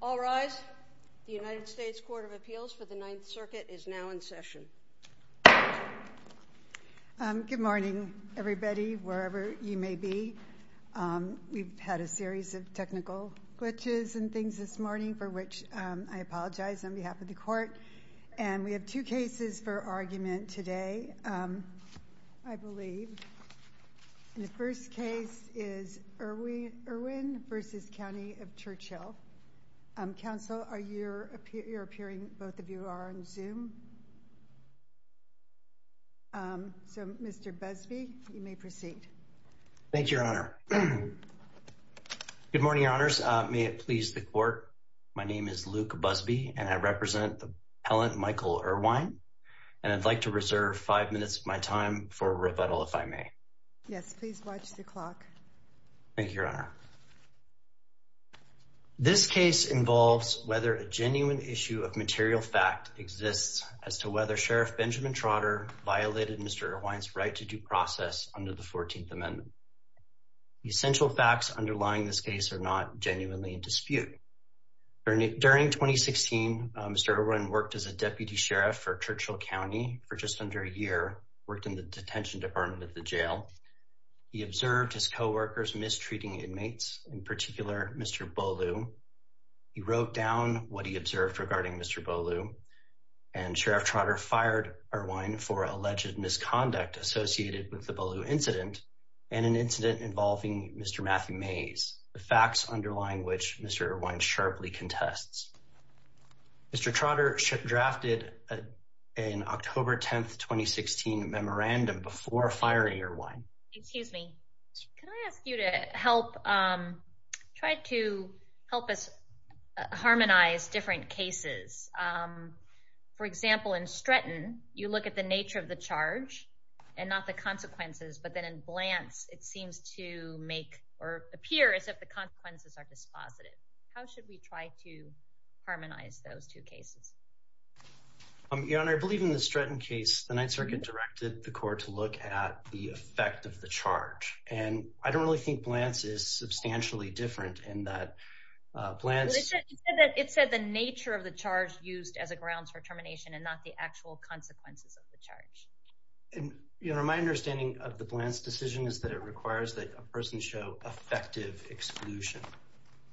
All rise. The United States Court of Appeals for the Ninth Circuit is now in session. Good morning, everybody, wherever you may be. We've had a series of technical glitches and things this morning, for which I apologize on behalf of the Court. And we have two cases for argument today, I believe. And the first case is Erwin versus County of Churchill. Counsel, you're appearing, both of you are on Zoom. So, Mr. Busby, you may proceed. Thank you, Your Honor. Good morning, Your Honors. May it please the Court, my name is Luke Busby, and I represent the appellant Michael Erwine. And I'd like to reserve five minutes of my time for rebuttal, if I may. Yes, please watch the clock. Thank you, Your Honor. This case involves whether a genuine issue of material fact exists as to whether Sheriff Benjamin Trotter violated Mr. Erwine's right to due process under the 14th Amendment. The essential facts underlying this case are not genuinely in dispute. During 2016, Mr. Erwine worked as a deputy sheriff for Churchill County for just under a year, worked in the detention department of the jail. He observed his co-workers mistreating inmates, in particular Mr. Bolu. He wrote down what he observed regarding Mr. Bolu, and Sheriff Trotter fired Erwine for alleged misconduct associated with the Bolu incident, and an incident involving Mr. Matthew Mays, the facts underlying which Mr. Erwine sharply contests. Mr. Trotter drafted an October 10th, 2016 memorandum before firing Erwine. Excuse me. Can I ask you to help, try to help us harmonize different cases? For example, in Stretton, you look at the nature of the charge, and not the consequences, but then in Blance, it seems to make, or appear as if the consequences are dispositive. How should we try to harmonize those two cases? Your Honor, I believe in the Stretton case, the Ninth Circuit directed the court to look at the effect of the charge, and I don't really think Blance is substantially different in that Blance… It said the nature of the charge used as a grounds for termination, and not the actual consequences of the charge. Your Honor, my understanding of the Blance decision is that it requires that a person show effective exclusion,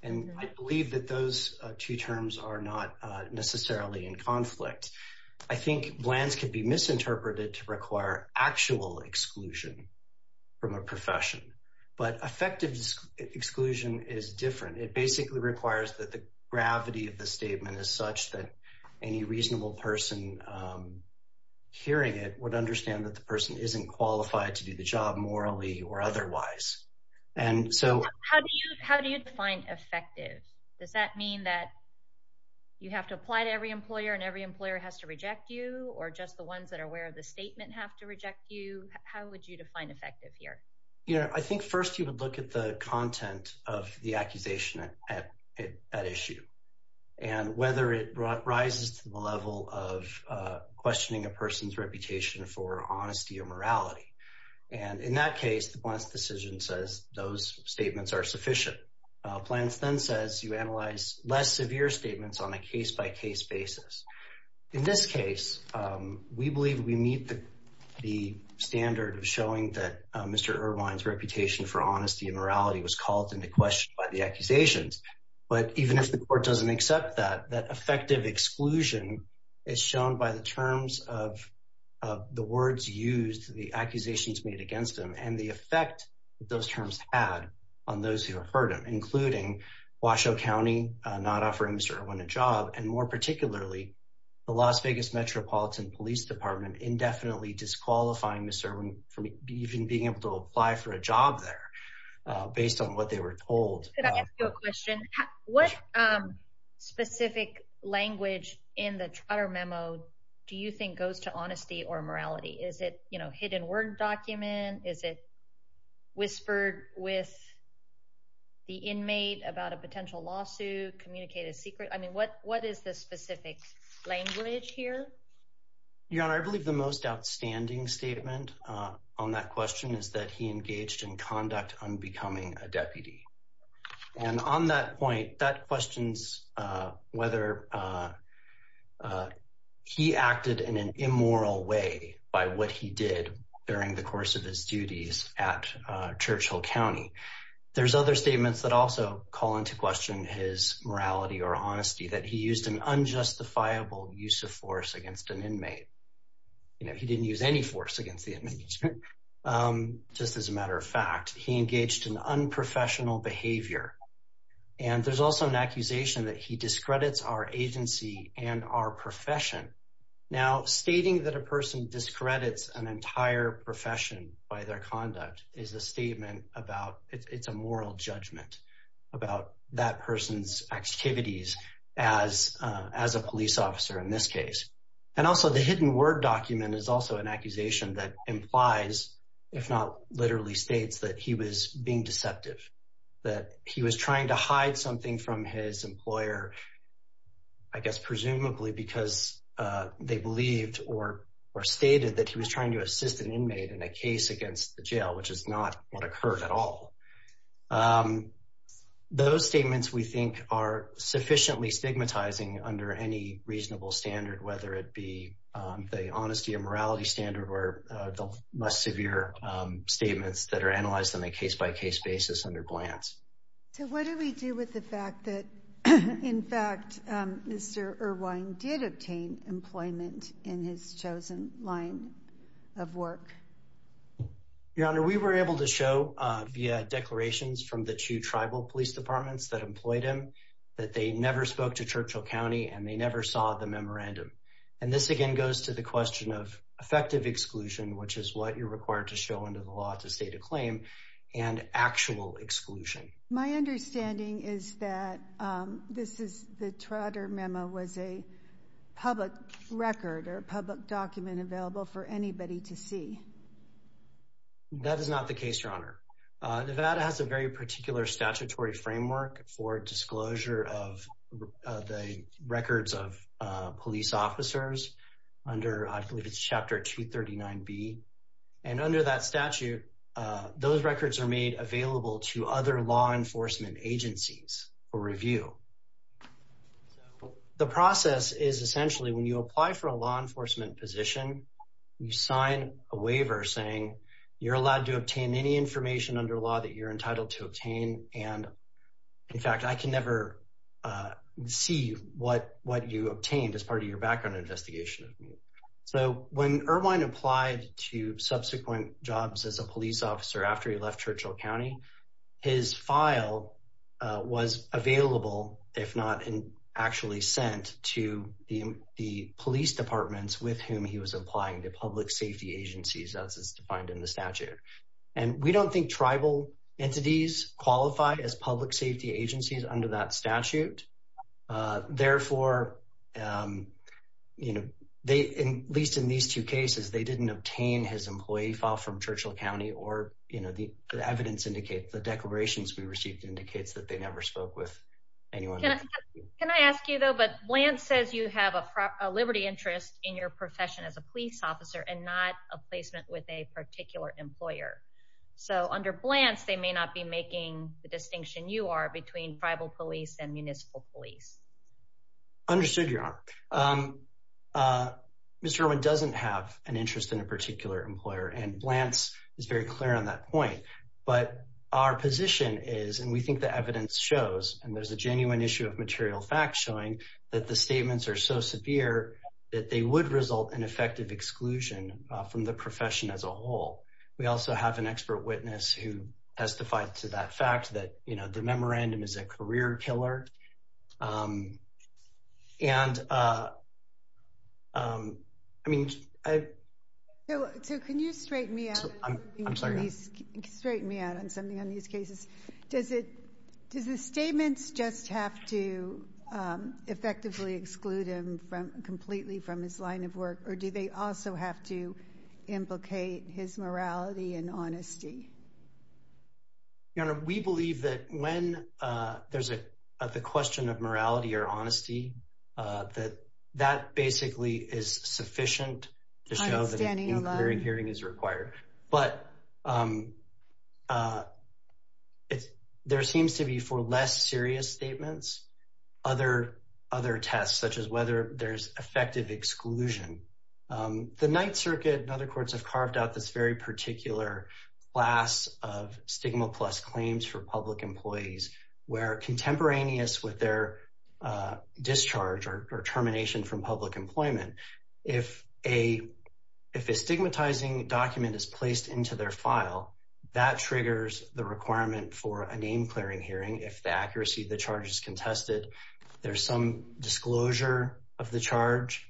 and I believe that those two terms are not necessarily in conflict. I think Blance could be misinterpreted to require actual exclusion from a profession, but effective exclusion is different. It basically requires that the gravity of the statement is such that any reasonable person hearing it would understand that the person isn't qualified to do the job morally or otherwise, and so… How do you define effective? Does that mean that you have to apply to every employer, and every employer has to reject you, or just the ones that are aware of the statement have to reject you? How would you define effective here? Your Honor, I think first you would look at the content of the accusation at issue, and whether it rises to the level of questioning a person's reputation for honesty or morality. And in that case, the Blance decision says those statements are sufficient. Blance then says you analyze less severe statements on a case-by-case basis. In this case, we believe we meet the standard of showing that Mr. Irwin's reputation for honesty and morality was called into question by the accusations. But even if the court doesn't accept that, that effective exclusion is shown by the terms of the words used, the accusations made against him, and the effect those terms had on those who heard him, including Washoe County not offering Mr. Irwin a job, and more particularly, the Las Vegas Metropolitan Police Department indefinitely disqualifying Mr. Irwin from even being able to apply for a job there, based on what they were told. Could I ask you a question? What specific language in the Trotter memo do you think goes to honesty or morality? Is it, you know, hidden word document? Is it whispered with the inmate about a potential lawsuit, communicated secret? I mean, what is the specific language here? Your Honor, I believe the most outstanding statement on that question is that he engaged in conduct on becoming a deputy. And on that point, that questions whether he acted in an immoral way by what he did during the course of his duties at Churchill County. There's other statements that also call into question his morality or honesty, that he used an unjustifiable use of force against an inmate. You know, he didn't use any force against the inmate. Just as a matter of fact, he engaged in unprofessional behavior. And there's also an accusation that he discredits our agency and our profession. Now, stating that a person discredits an entire profession by their conduct is a statement about, it's a moral judgment about that person's activities as a police officer in this case. And also the hidden word document is also an accusation that implies, if not literally states, that he was being deceptive. That he was trying to hide something from his employer, I guess, presumably because they believed or stated that he was trying to assist an inmate in a case against the jail, which is not what occurred at all. Those statements, we think, are sufficiently stigmatizing under any reasonable standard, whether it be the honesty or morality standard or the less severe statements that are analyzed on a case-by-case basis under glance. So what do we do with the fact that, in fact, Mr. Irvine did obtain employment in his chosen line of work? Your Honor, we were able to show via declarations from the two tribal police departments that employed him that they never spoke to Churchill County and they never saw the memorandum. And this again goes to the question of effective exclusion, which is what you're required to show under the law to state a claim, and actual exclusion. My understanding is that the Trotter memo was a public record or a public document available for anybody to see. That is not the case, Your Honor. Nevada has a very particular statutory framework for disclosure of the records of police officers under, I believe it's Chapter 239B. And under that statute, those records are made available to other law enforcement agencies for review. The process is essentially when you apply for a law enforcement position, you sign a waiver saying you're allowed to obtain any information under law that you're entitled to obtain. And, in fact, I can never see what you obtained as part of your background investigation. So when Irvine applied to subsequent jobs as a police officer after he left Churchill County, his file was available, if not actually sent to the police departments with whom he was applying to public safety agencies as is defined in the statute. And we don't think tribal entities qualify as public safety agencies under that statute. Therefore, at least in these two cases, they didn't obtain his employee file from Churchill County, or the evidence indicates, the declarations we received indicates that they never spoke with anyone. Can I ask you though, but Blantz says you have a liberty interest in your profession as a police officer and not a placement with a particular employer. So under Blantz, they may not be making the distinction you are between tribal police and municipal police. Understood, Your Honor. Mr. Irvine doesn't have an interest in a particular employer, and Blantz is very clear on that point. But our position is, and we think the evidence shows, and there's a genuine issue of material facts showing that the statements are so severe that they would result in effective exclusion from the profession as a whole. We also have an expert witness who testified to that fact that, you know, the memorandum is a career killer. So can you straighten me out on something on these cases? Does the statements just have to effectively exclude him completely from his line of work, or do they also have to implicate his morality and honesty? Your Honor, we believe that when there's a question of morality or honesty, that that basically is sufficient to show that an inquiry hearing is required. But there seems to be, for less serious statements, other tests, such as whether there's effective exclusion. The Ninth Circuit and other courts have carved out this very particular class of stigma-plus claims for public employees where contemporaneous with their discharge or termination from public employment, if a stigmatizing document is placed into their file, that triggers the requirement for a name-clearing hearing if the accuracy of the charge is contested. There's some disclosure of the charge,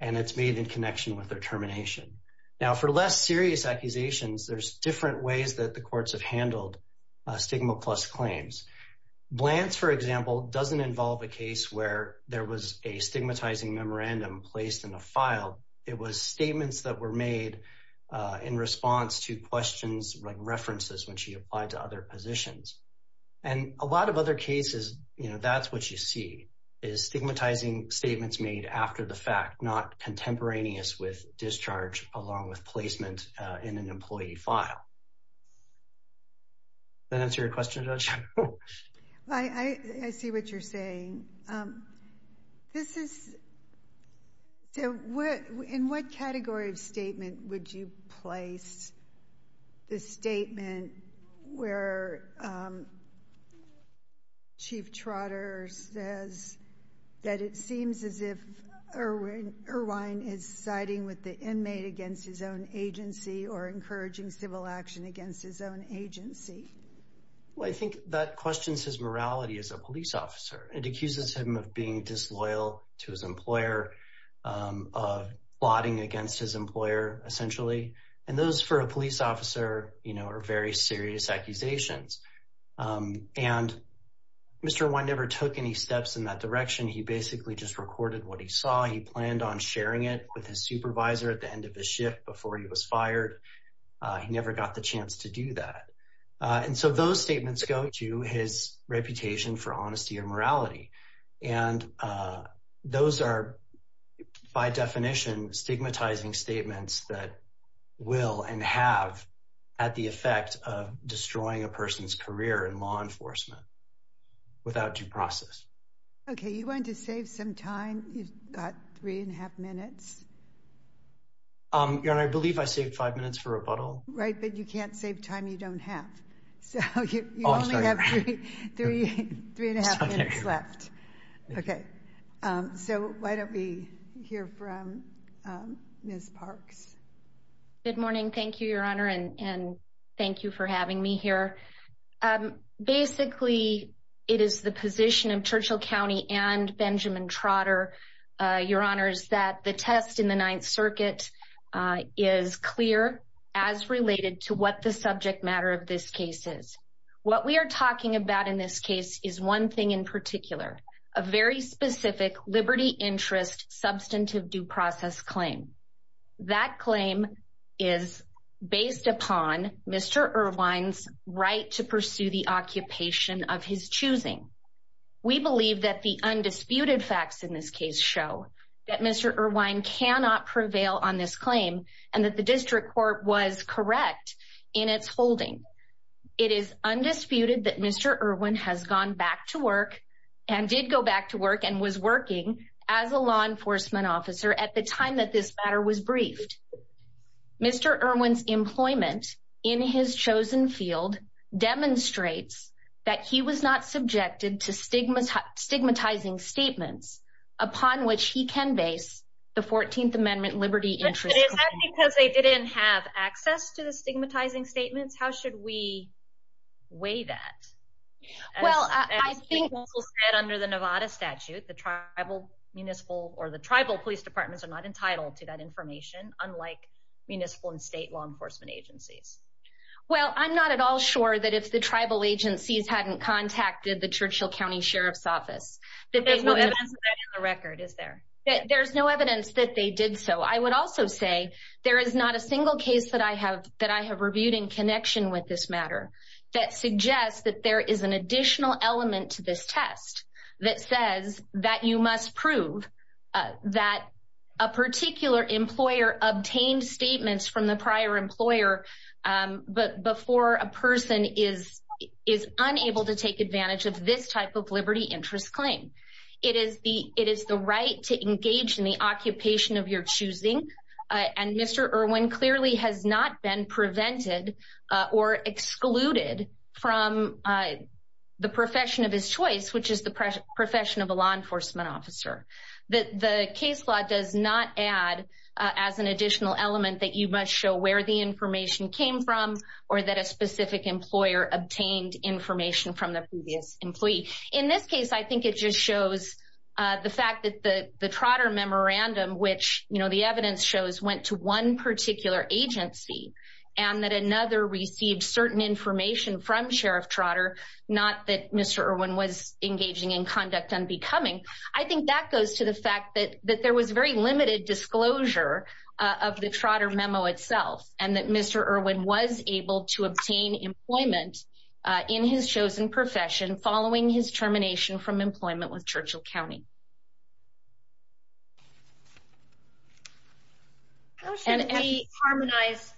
and it's made in connection with their termination. Now, for less serious accusations, there's different ways that the courts have handled stigma-plus claims. Blants, for example, doesn't involve a case where there was a stigmatizing memorandum placed in a file. It was statements that were made in response to questions like references when she applied to other positions. And a lot of other cases, that's what you see, is stigmatizing statements made after the fact, not contemporaneous with discharge along with placement in an employee file. Does that answer your question, Judge? I see what you're saying. In what category of statement would you place the statement where Chief Trotter says that it seems as if Irwin is siding with the inmate against his own agency or encouraging civil action against his own agency? Well, I think that questions his morality as a police officer. It accuses him of being disloyal to his employer, of plotting against his employer, essentially. And those, for a police officer, are very serious accusations. And Mr. Irwin never took any steps in that direction. He basically just recorded what he saw. He planned on sharing it with his supervisor at the end of his shift before he was fired. He never got the chance to do that. And so those statements go to his reputation for honesty and morality. And those are, by definition, stigmatizing statements that will and have had the effect of destroying a person's career in law enforcement without due process. Okay, you want to save some time? You've got three and a half minutes. Your Honor, I believe I saved five minutes for rebuttal. Right, but you can't save time you don't have. So you only have three and a half minutes left. Okay, so why don't we hear from Ms. Parks? Good morning. Thank you, Your Honor, and thank you for having me here. Basically, it is the position of Churchill County and Benjamin Trotter, Your Honors, that the test in the Ninth Circuit is clear. As related to what the subject matter of this case is. What we are talking about in this case is one thing in particular. A very specific liberty interest substantive due process claim. That claim is based upon Mr. Irvine's right to pursue the occupation of his choosing. We believe that the undisputed facts in this case show that Mr. Irvine cannot prevail on this claim and that the district court was correct in its holding. It is undisputed that Mr. Irvine has gone back to work and did go back to work and was working as a law enforcement officer at the time that this matter was briefed. Mr. Irvine's employment in his chosen field demonstrates that he was not subjected to stigmatizing statements upon which he can base the 14th Amendment liberty interest claim. But is that because they didn't have access to the stigmatizing statements? How should we weigh that? Well, I think under the Nevada statute, the tribal municipal or the tribal police departments are not entitled to that information, unlike municipal and state law enforcement agencies. Well, I'm not at all sure that if the tribal agencies hadn't contacted the Churchill County Sheriff's Office. There's no evidence of that in the record, is there? There's no evidence that they did so. I would also say there is not a single case that I have that I have reviewed in connection with this matter that suggests that there is an additional element to this test that says that you must prove that a particular employer obtained statements from the prior employer. But before a person is is unable to take advantage of this type of liberty interest claim, it is the it is the right to engage in the occupation of your choosing. And Mr. Irvine clearly has not been prevented or excluded from the profession of his choice, which is the profession of a law enforcement officer. The case law does not add as an additional element that you must show where the information came from or that a specific employer obtained information from the previous employee. In this case, I think it just shows the fact that the Trotter memorandum, which the evidence shows, went to one particular agency and that another received certain information from Sheriff Trotter, not that Mr. Irvine was engaging in conduct unbecoming. I think that goes to the fact that that there was very limited disclosure of the Trotter memo itself and that Mr. Irvine was able to obtain employment in his chosen profession following his termination from employment with Churchill County. How should we harmonize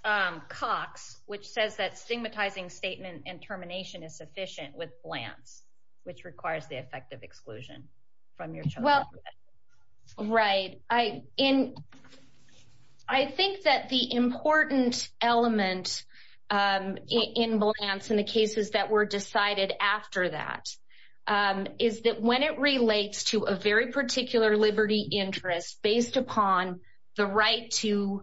Cox, which says that stigmatizing statement and termination is sufficient with Blantz, which requires the effect of exclusion from your choice? Right. I in I think that the important element in Blantz and the cases that were decided after that is that when it relates to a very particular liberty interest based upon the right to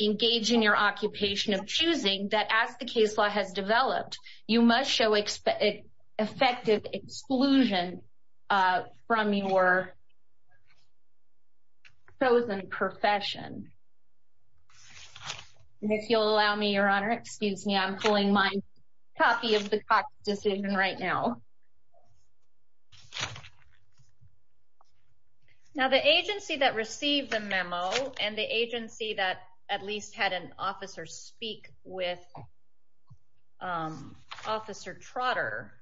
engage in your occupation of choosing that as the case law has developed, you must show effective exclusion from your chosen profession. And if you'll allow me, Your Honor, excuse me, I'm pulling my copy of the Cox decision right now. Now, the agency that received the memo and the agency that at least had an officer speak with Officer Trotter,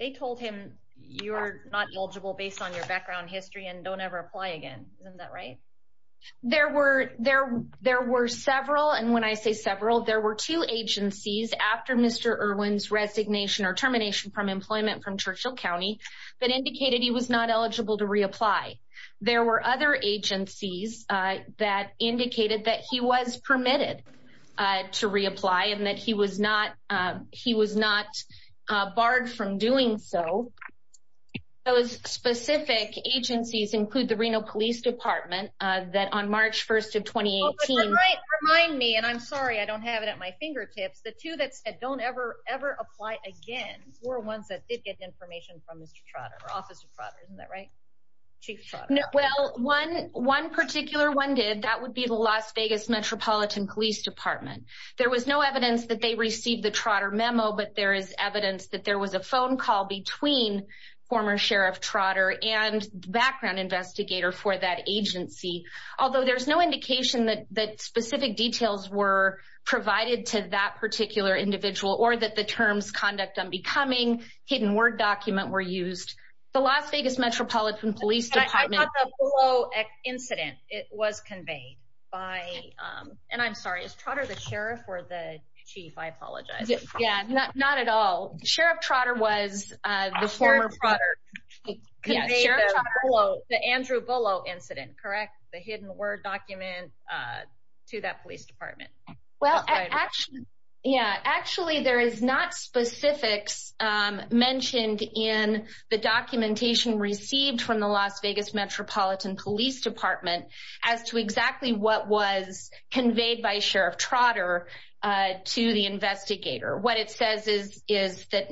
they told him you're not eligible based on your background history and don't ever apply again. Isn't that right? There were there there were several. And when I say several, there were two agencies after Mr. Irvine's resignation or termination from employment from Churchill County that indicated he was not eligible to reapply. There were other agencies that indicated that he was permitted to reapply and that he was not he was not barred from doing so. Those specific agencies include the Reno Police Department that on March 1st of 2018. Right. Remind me. And I'm sorry, I don't have it at my fingertips. The two that said don't ever, ever apply again were ones that did get information from Mr. Trotter or Officer Trotter. Isn't that right? Well, one one particular one did that would be the Las Vegas Metropolitan Police Department. There was no evidence that they received the Trotter memo, but there is evidence that there was a phone call between former Sheriff Trotter and background investigator for that agency. Although there's no indication that that specific details were provided to that particular individual or that the terms conduct on becoming hidden word document were used. The Las Vegas Metropolitan Police Department incident, it was conveyed by and I'm sorry, is Trotter the sheriff or the chief? I apologize. Yeah, not at all. Sheriff Trotter was the former. Yes. The Andrew Bullough incident. Correct. The hidden word document to that police department. Well, actually, yeah, actually, there is not specifics mentioned in the documentation received from the Las Vegas Metropolitan Police Department as to exactly what was conveyed by Sheriff Trotter to the investigator. What it says is, is that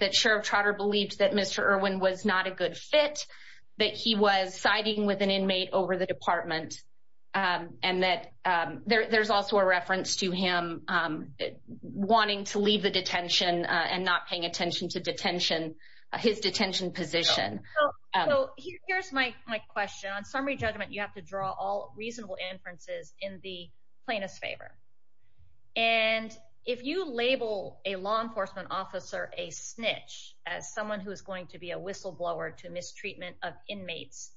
that Sheriff Trotter believed that Mr. Irwin was not a good fit, that he was siding with an inmate over the department and that there's also a reference to him wanting to leave the detention and not paying attention to detention. His detention position. Here's my question on summary judgment. You have to draw all reasonable inferences in the plaintiff's favor. And if you label a law enforcement officer a snitch as someone who is going to be a whistleblower to mistreatment of inmates,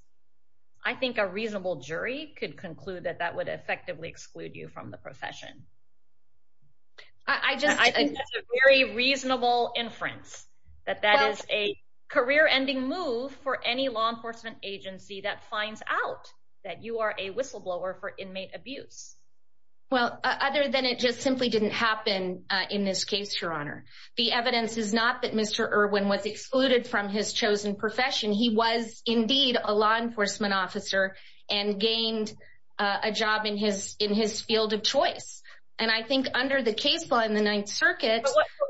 I think a reasonable jury could conclude that that would effectively exclude you from the profession. I just I think it's a very reasonable inference that that is a career ending move for any law enforcement agency that finds out that you are a whistleblower for inmate abuse. Well, other than it just simply didn't happen in this case, Your Honor, the evidence is not that Mr. Irwin was excluded from his chosen profession. He was indeed a law enforcement officer and gained a job in his in his field of choice. And I think under the case law in the Ninth Circuit,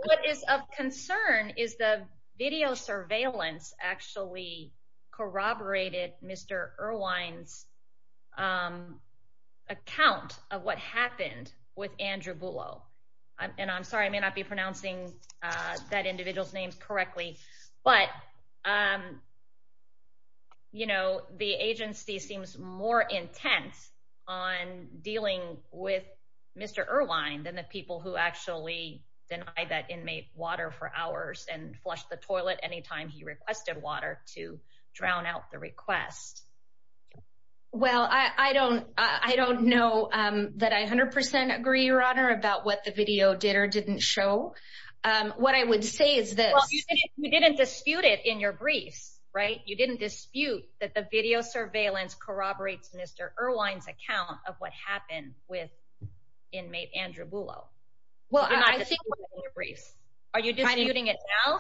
what is of concern is the video surveillance actually corroborated Mr. Irwin's account of what happened with Andrew Bullo. And I'm sorry, I may not be pronouncing that individual's name correctly, but, you know, the agency seems more intense on dealing with Mr. Irwin than the people who actually denied that inmate water for hours and flushed the toilet anytime he requested water to drown out the request. Well, I don't I don't know that I 100 percent agree, Your Honor, about what the video did or didn't show. What I would say is that you didn't dispute it in your briefs. Right. You didn't dispute that the video surveillance corroborates Mr. Irwin's account of what happened with inmate Andrew Bullo. Well, I think your briefs. Are you disputing it now?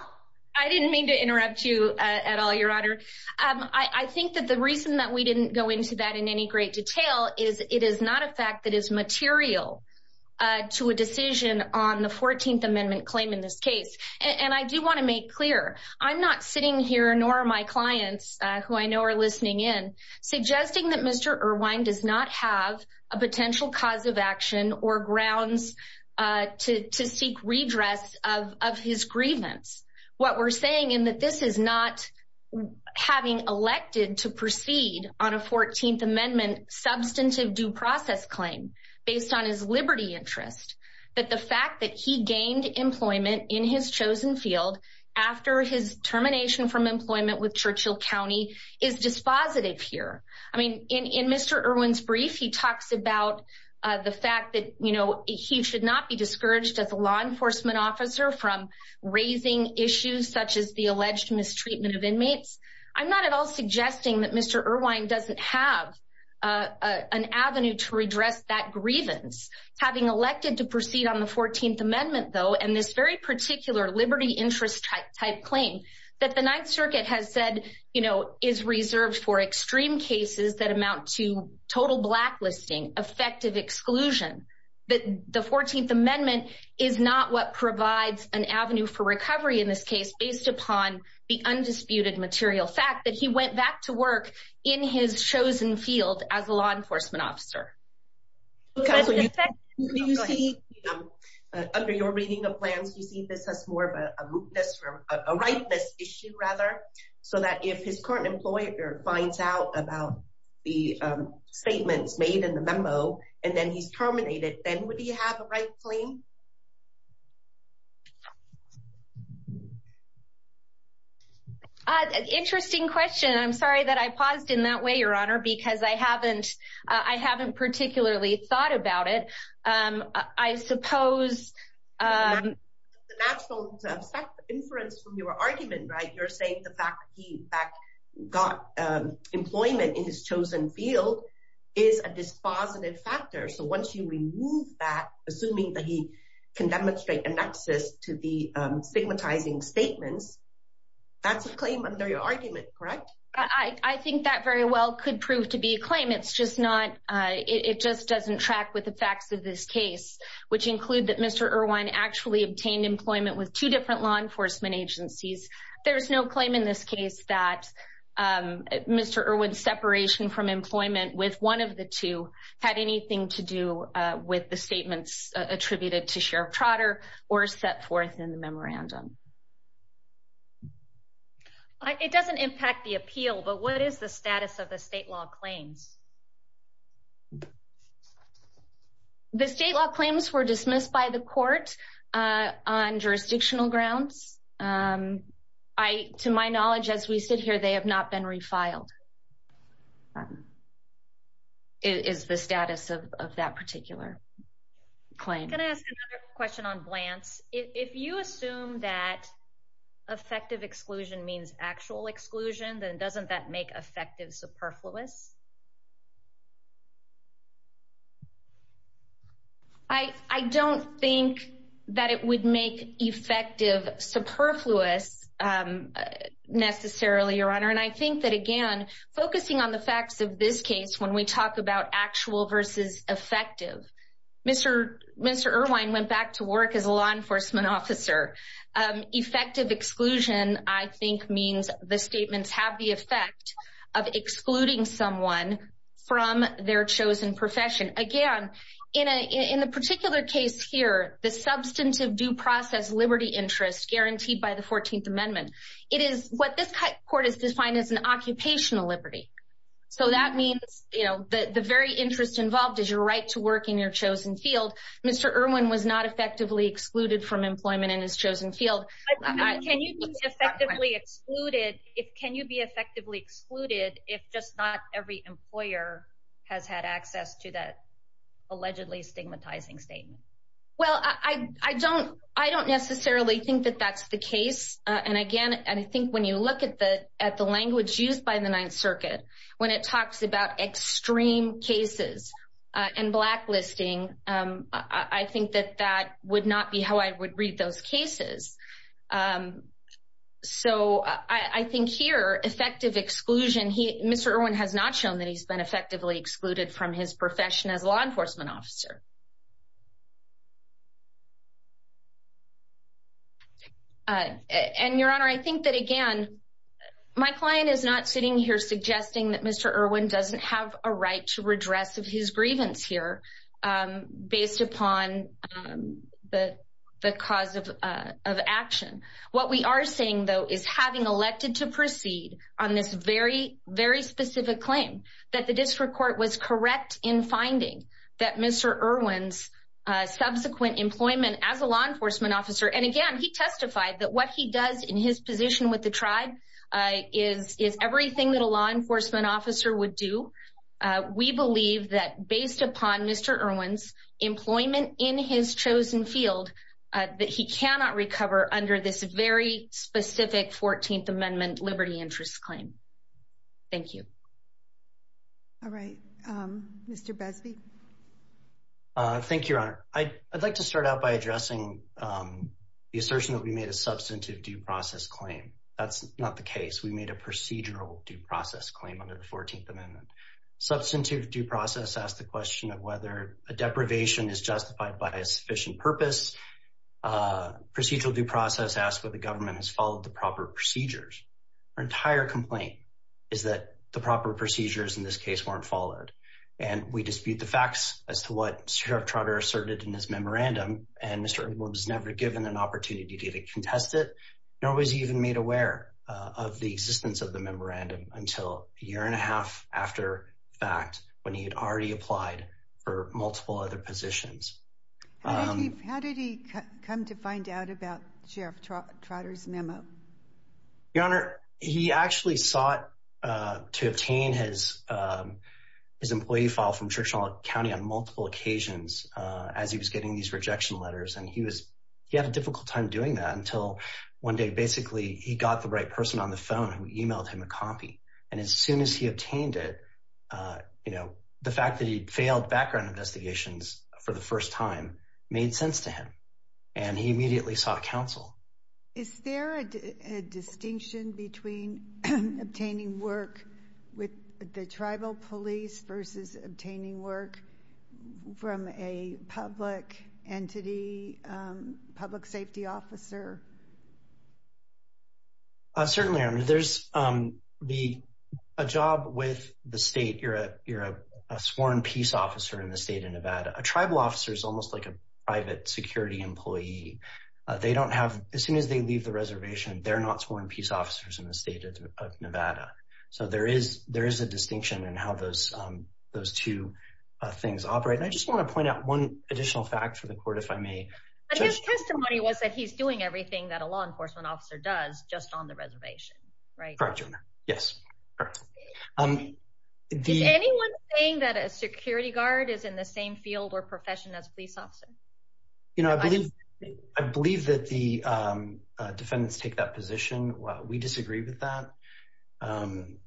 I didn't mean to interrupt you at all, Your Honor. I think that the reason that we didn't go into that in any great detail is it is not a fact that is material to a decision on the 14th Amendment claim in this case. And I do want to make clear, I'm not sitting here, nor are my clients who I know are listening in, suggesting that Mr. Irwin does not have a potential cause of action or grounds to seek redress of his grievance. What we're saying in that this is not having elected to proceed on a 14th Amendment substantive due process claim based on his liberty interest. But the fact that he gained employment in his chosen field after his termination from employment with Churchill County is dispositive here. I mean, in Mr. Irwin's brief, he talks about the fact that, you know, he should not be discouraged as a law enforcement officer from raising issues such as the alleged mistreatment of inmates. I'm not at all suggesting that Mr. Irwin doesn't have an avenue to redress that grievance. Having elected to proceed on the 14th Amendment, though, and this very particular liberty interest type claim that the Ninth Circuit has said, you know, is reserved for extreme cases that amount to total blacklisting, effective exclusion. The 14th Amendment is not what provides an avenue for recovery in this case based upon the undisputed material fact that he went back to work in his chosen field as a law enforcement officer. Under your reading of plans, you see this as more of a rightness issue, rather, so that if his current employer finds out about the statements made in the memo and then he's terminated, then would he have a right claim? Interesting question. I'm sorry that I paused in that way, Your Honor, because I haven't particularly thought about it. I suppose the inference from your argument, right, you're saying the fact that he got employment in his chosen field is a dispositive factor. So once you remove that, assuming that he can demonstrate a nexus to the stigmatizing statements, that's a claim under your argument, correct? I think that very well could prove to be a claim. It's just not, it just doesn't track with the facts of this case, which include that Mr. Irwin actually obtained employment with two different law enforcement agencies. There's no claim in this case that Mr. Irwin's separation from employment with one of the two had anything to do with the statements attributed to Sheriff Trotter or set forth in the memorandum. It doesn't impact the appeal, but what is the status of the state law claims? The state law claims were dismissed by the court on jurisdictional grounds. To my knowledge, as we sit here, they have not been refiled, is the status of that particular claim. I'm going to ask another question on Blants. If you assume that effective exclusion means actual exclusion, then doesn't that make effective superfluous? I don't think that it would make effective superfluous necessarily, Your Honor. And I think that again, focusing on the facts of this case, when we talk about actual versus effective, Mr. Irwin went back to work as a law enforcement officer. Effective exclusion, I think, means the statements have the effect of excluding someone from their chosen profession. Again, in the particular case here, the substantive due process liberty interest guaranteed by the 14th Amendment, it is what this court has defined as an occupational liberty. So that means the very interest involved is your right to work in your chosen field. Mr. Irwin was not effectively excluded from employment in his chosen field. Can you be effectively excluded if just not every employer has had access to that allegedly stigmatizing statement? Well, I don't necessarily think that that's the case. And again, I think when you look at the language used by the Ninth Circuit, when it talks about extreme cases and blacklisting, I think that that would not be how I would read those cases. So I think here, effective exclusion, Mr. Irwin has not shown that he's been effectively excluded from his profession as a law enforcement officer. And, Your Honor, I think that, again, my client is not sitting here suggesting that Mr. Irwin doesn't have a right to redress of his grievance here based upon the cause of action. What we are saying, though, is having elected to proceed on this very, very specific claim that the district court was correct in finding that Mr. Irwin's subsequent employment as a law enforcement officer. And again, he testified that what he does in his position with the tribe is everything that a law enforcement officer would do. We believe that based upon Mr. Irwin's employment in his chosen field, that he cannot recover under this very specific 14th Amendment liberty interest claim. Thank you. All right. Mr. Besby. Thank you, Your Honor. I'd like to start out by addressing the assertion that we made a substantive due process claim. That's not the case. We made a procedural due process claim under the 14th Amendment. Substantive due process asks the question of whether a deprivation is justified by a sufficient purpose. Procedural due process asks whether the government has followed the proper procedures. Our entire complaint is that the proper procedures in this case weren't followed. And we dispute the facts as to what Sheriff Trotter asserted in his memorandum. And Mr. Irwin was never given an opportunity to contest it nor was he even made aware of the existence of the memorandum until a year and a half after the fact when he had already applied for multiple other positions. How did he come to find out about Sheriff Trotter's memo? Your Honor, he actually sought to obtain his employee file from Churchill County on multiple occasions as he was getting these rejection letters. And he had a difficult time doing that until one day, basically, he got the right person on the phone who emailed him a copy. And as soon as he obtained it, you know, the fact that he failed background investigations for the first time made sense to him. And he immediately sought counsel. Is there a distinction between obtaining work with the tribal police versus obtaining work from a public entity, public safety officer? Certainly, Your Honor. There's a job with the state. You're a sworn peace officer in the state of Nevada. A tribal officer is almost like a private security employee. They don't have, as soon as they leave the reservation, they're not sworn peace officers in the state of Nevada. So there is a distinction in how those two things operate. And I just want to point out one additional fact for the court, if I may. But his testimony was that he's doing everything that a law enforcement officer does just on the reservation, right? Correct, Your Honor. Yes. Is anyone saying that a security guard is in the same field or profession as a police officer? You know, I believe that the defendants take that position. We disagree with that. And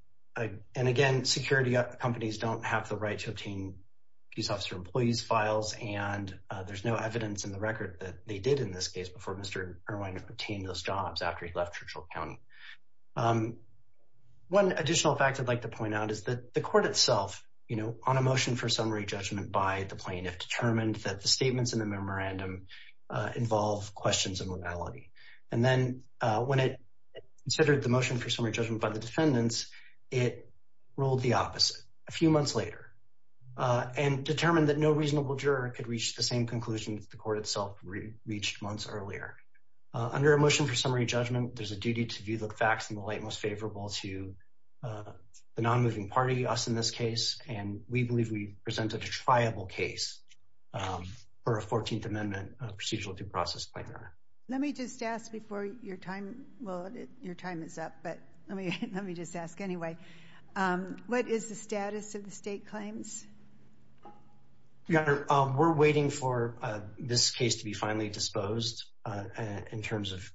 again, security companies don't have the right to obtain police officer employees' files. And there's no evidence in the record that they did in this case before Mr. Irwine obtained those jobs after he left Churchill County. One additional fact I'd like to point out is that the court itself, you know, on a motion for summary judgment by the plaintiff, determined that the statements in the memorandum involve questions of modality. And then when it considered the motion for summary judgment by the defendants, it ruled the opposite a few months later and determined that no reasonable juror could reach the same conclusion that the court itself reached months earlier. Under a motion for summary judgment, there's a duty to view the facts in the light most favorable to the non-moving party, us in this case. And we believe we presented a triable case for a 14th Amendment procedural due process claim. Let me just ask before your time, well, your time is up, but let me just ask anyway. What is the status of the state claims? Your Honor, we're waiting for this case to be finally disposed in terms of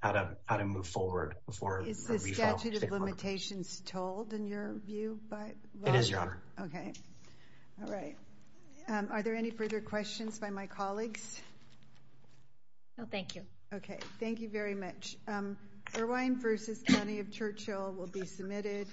how to move forward. Is the statute of limitations told in your view? It is, Your Honor. Okay, all right. Are there any further questions by my colleagues? No, thank you. Okay, thank you very much. Irwine v. County of Churchill will be submitted.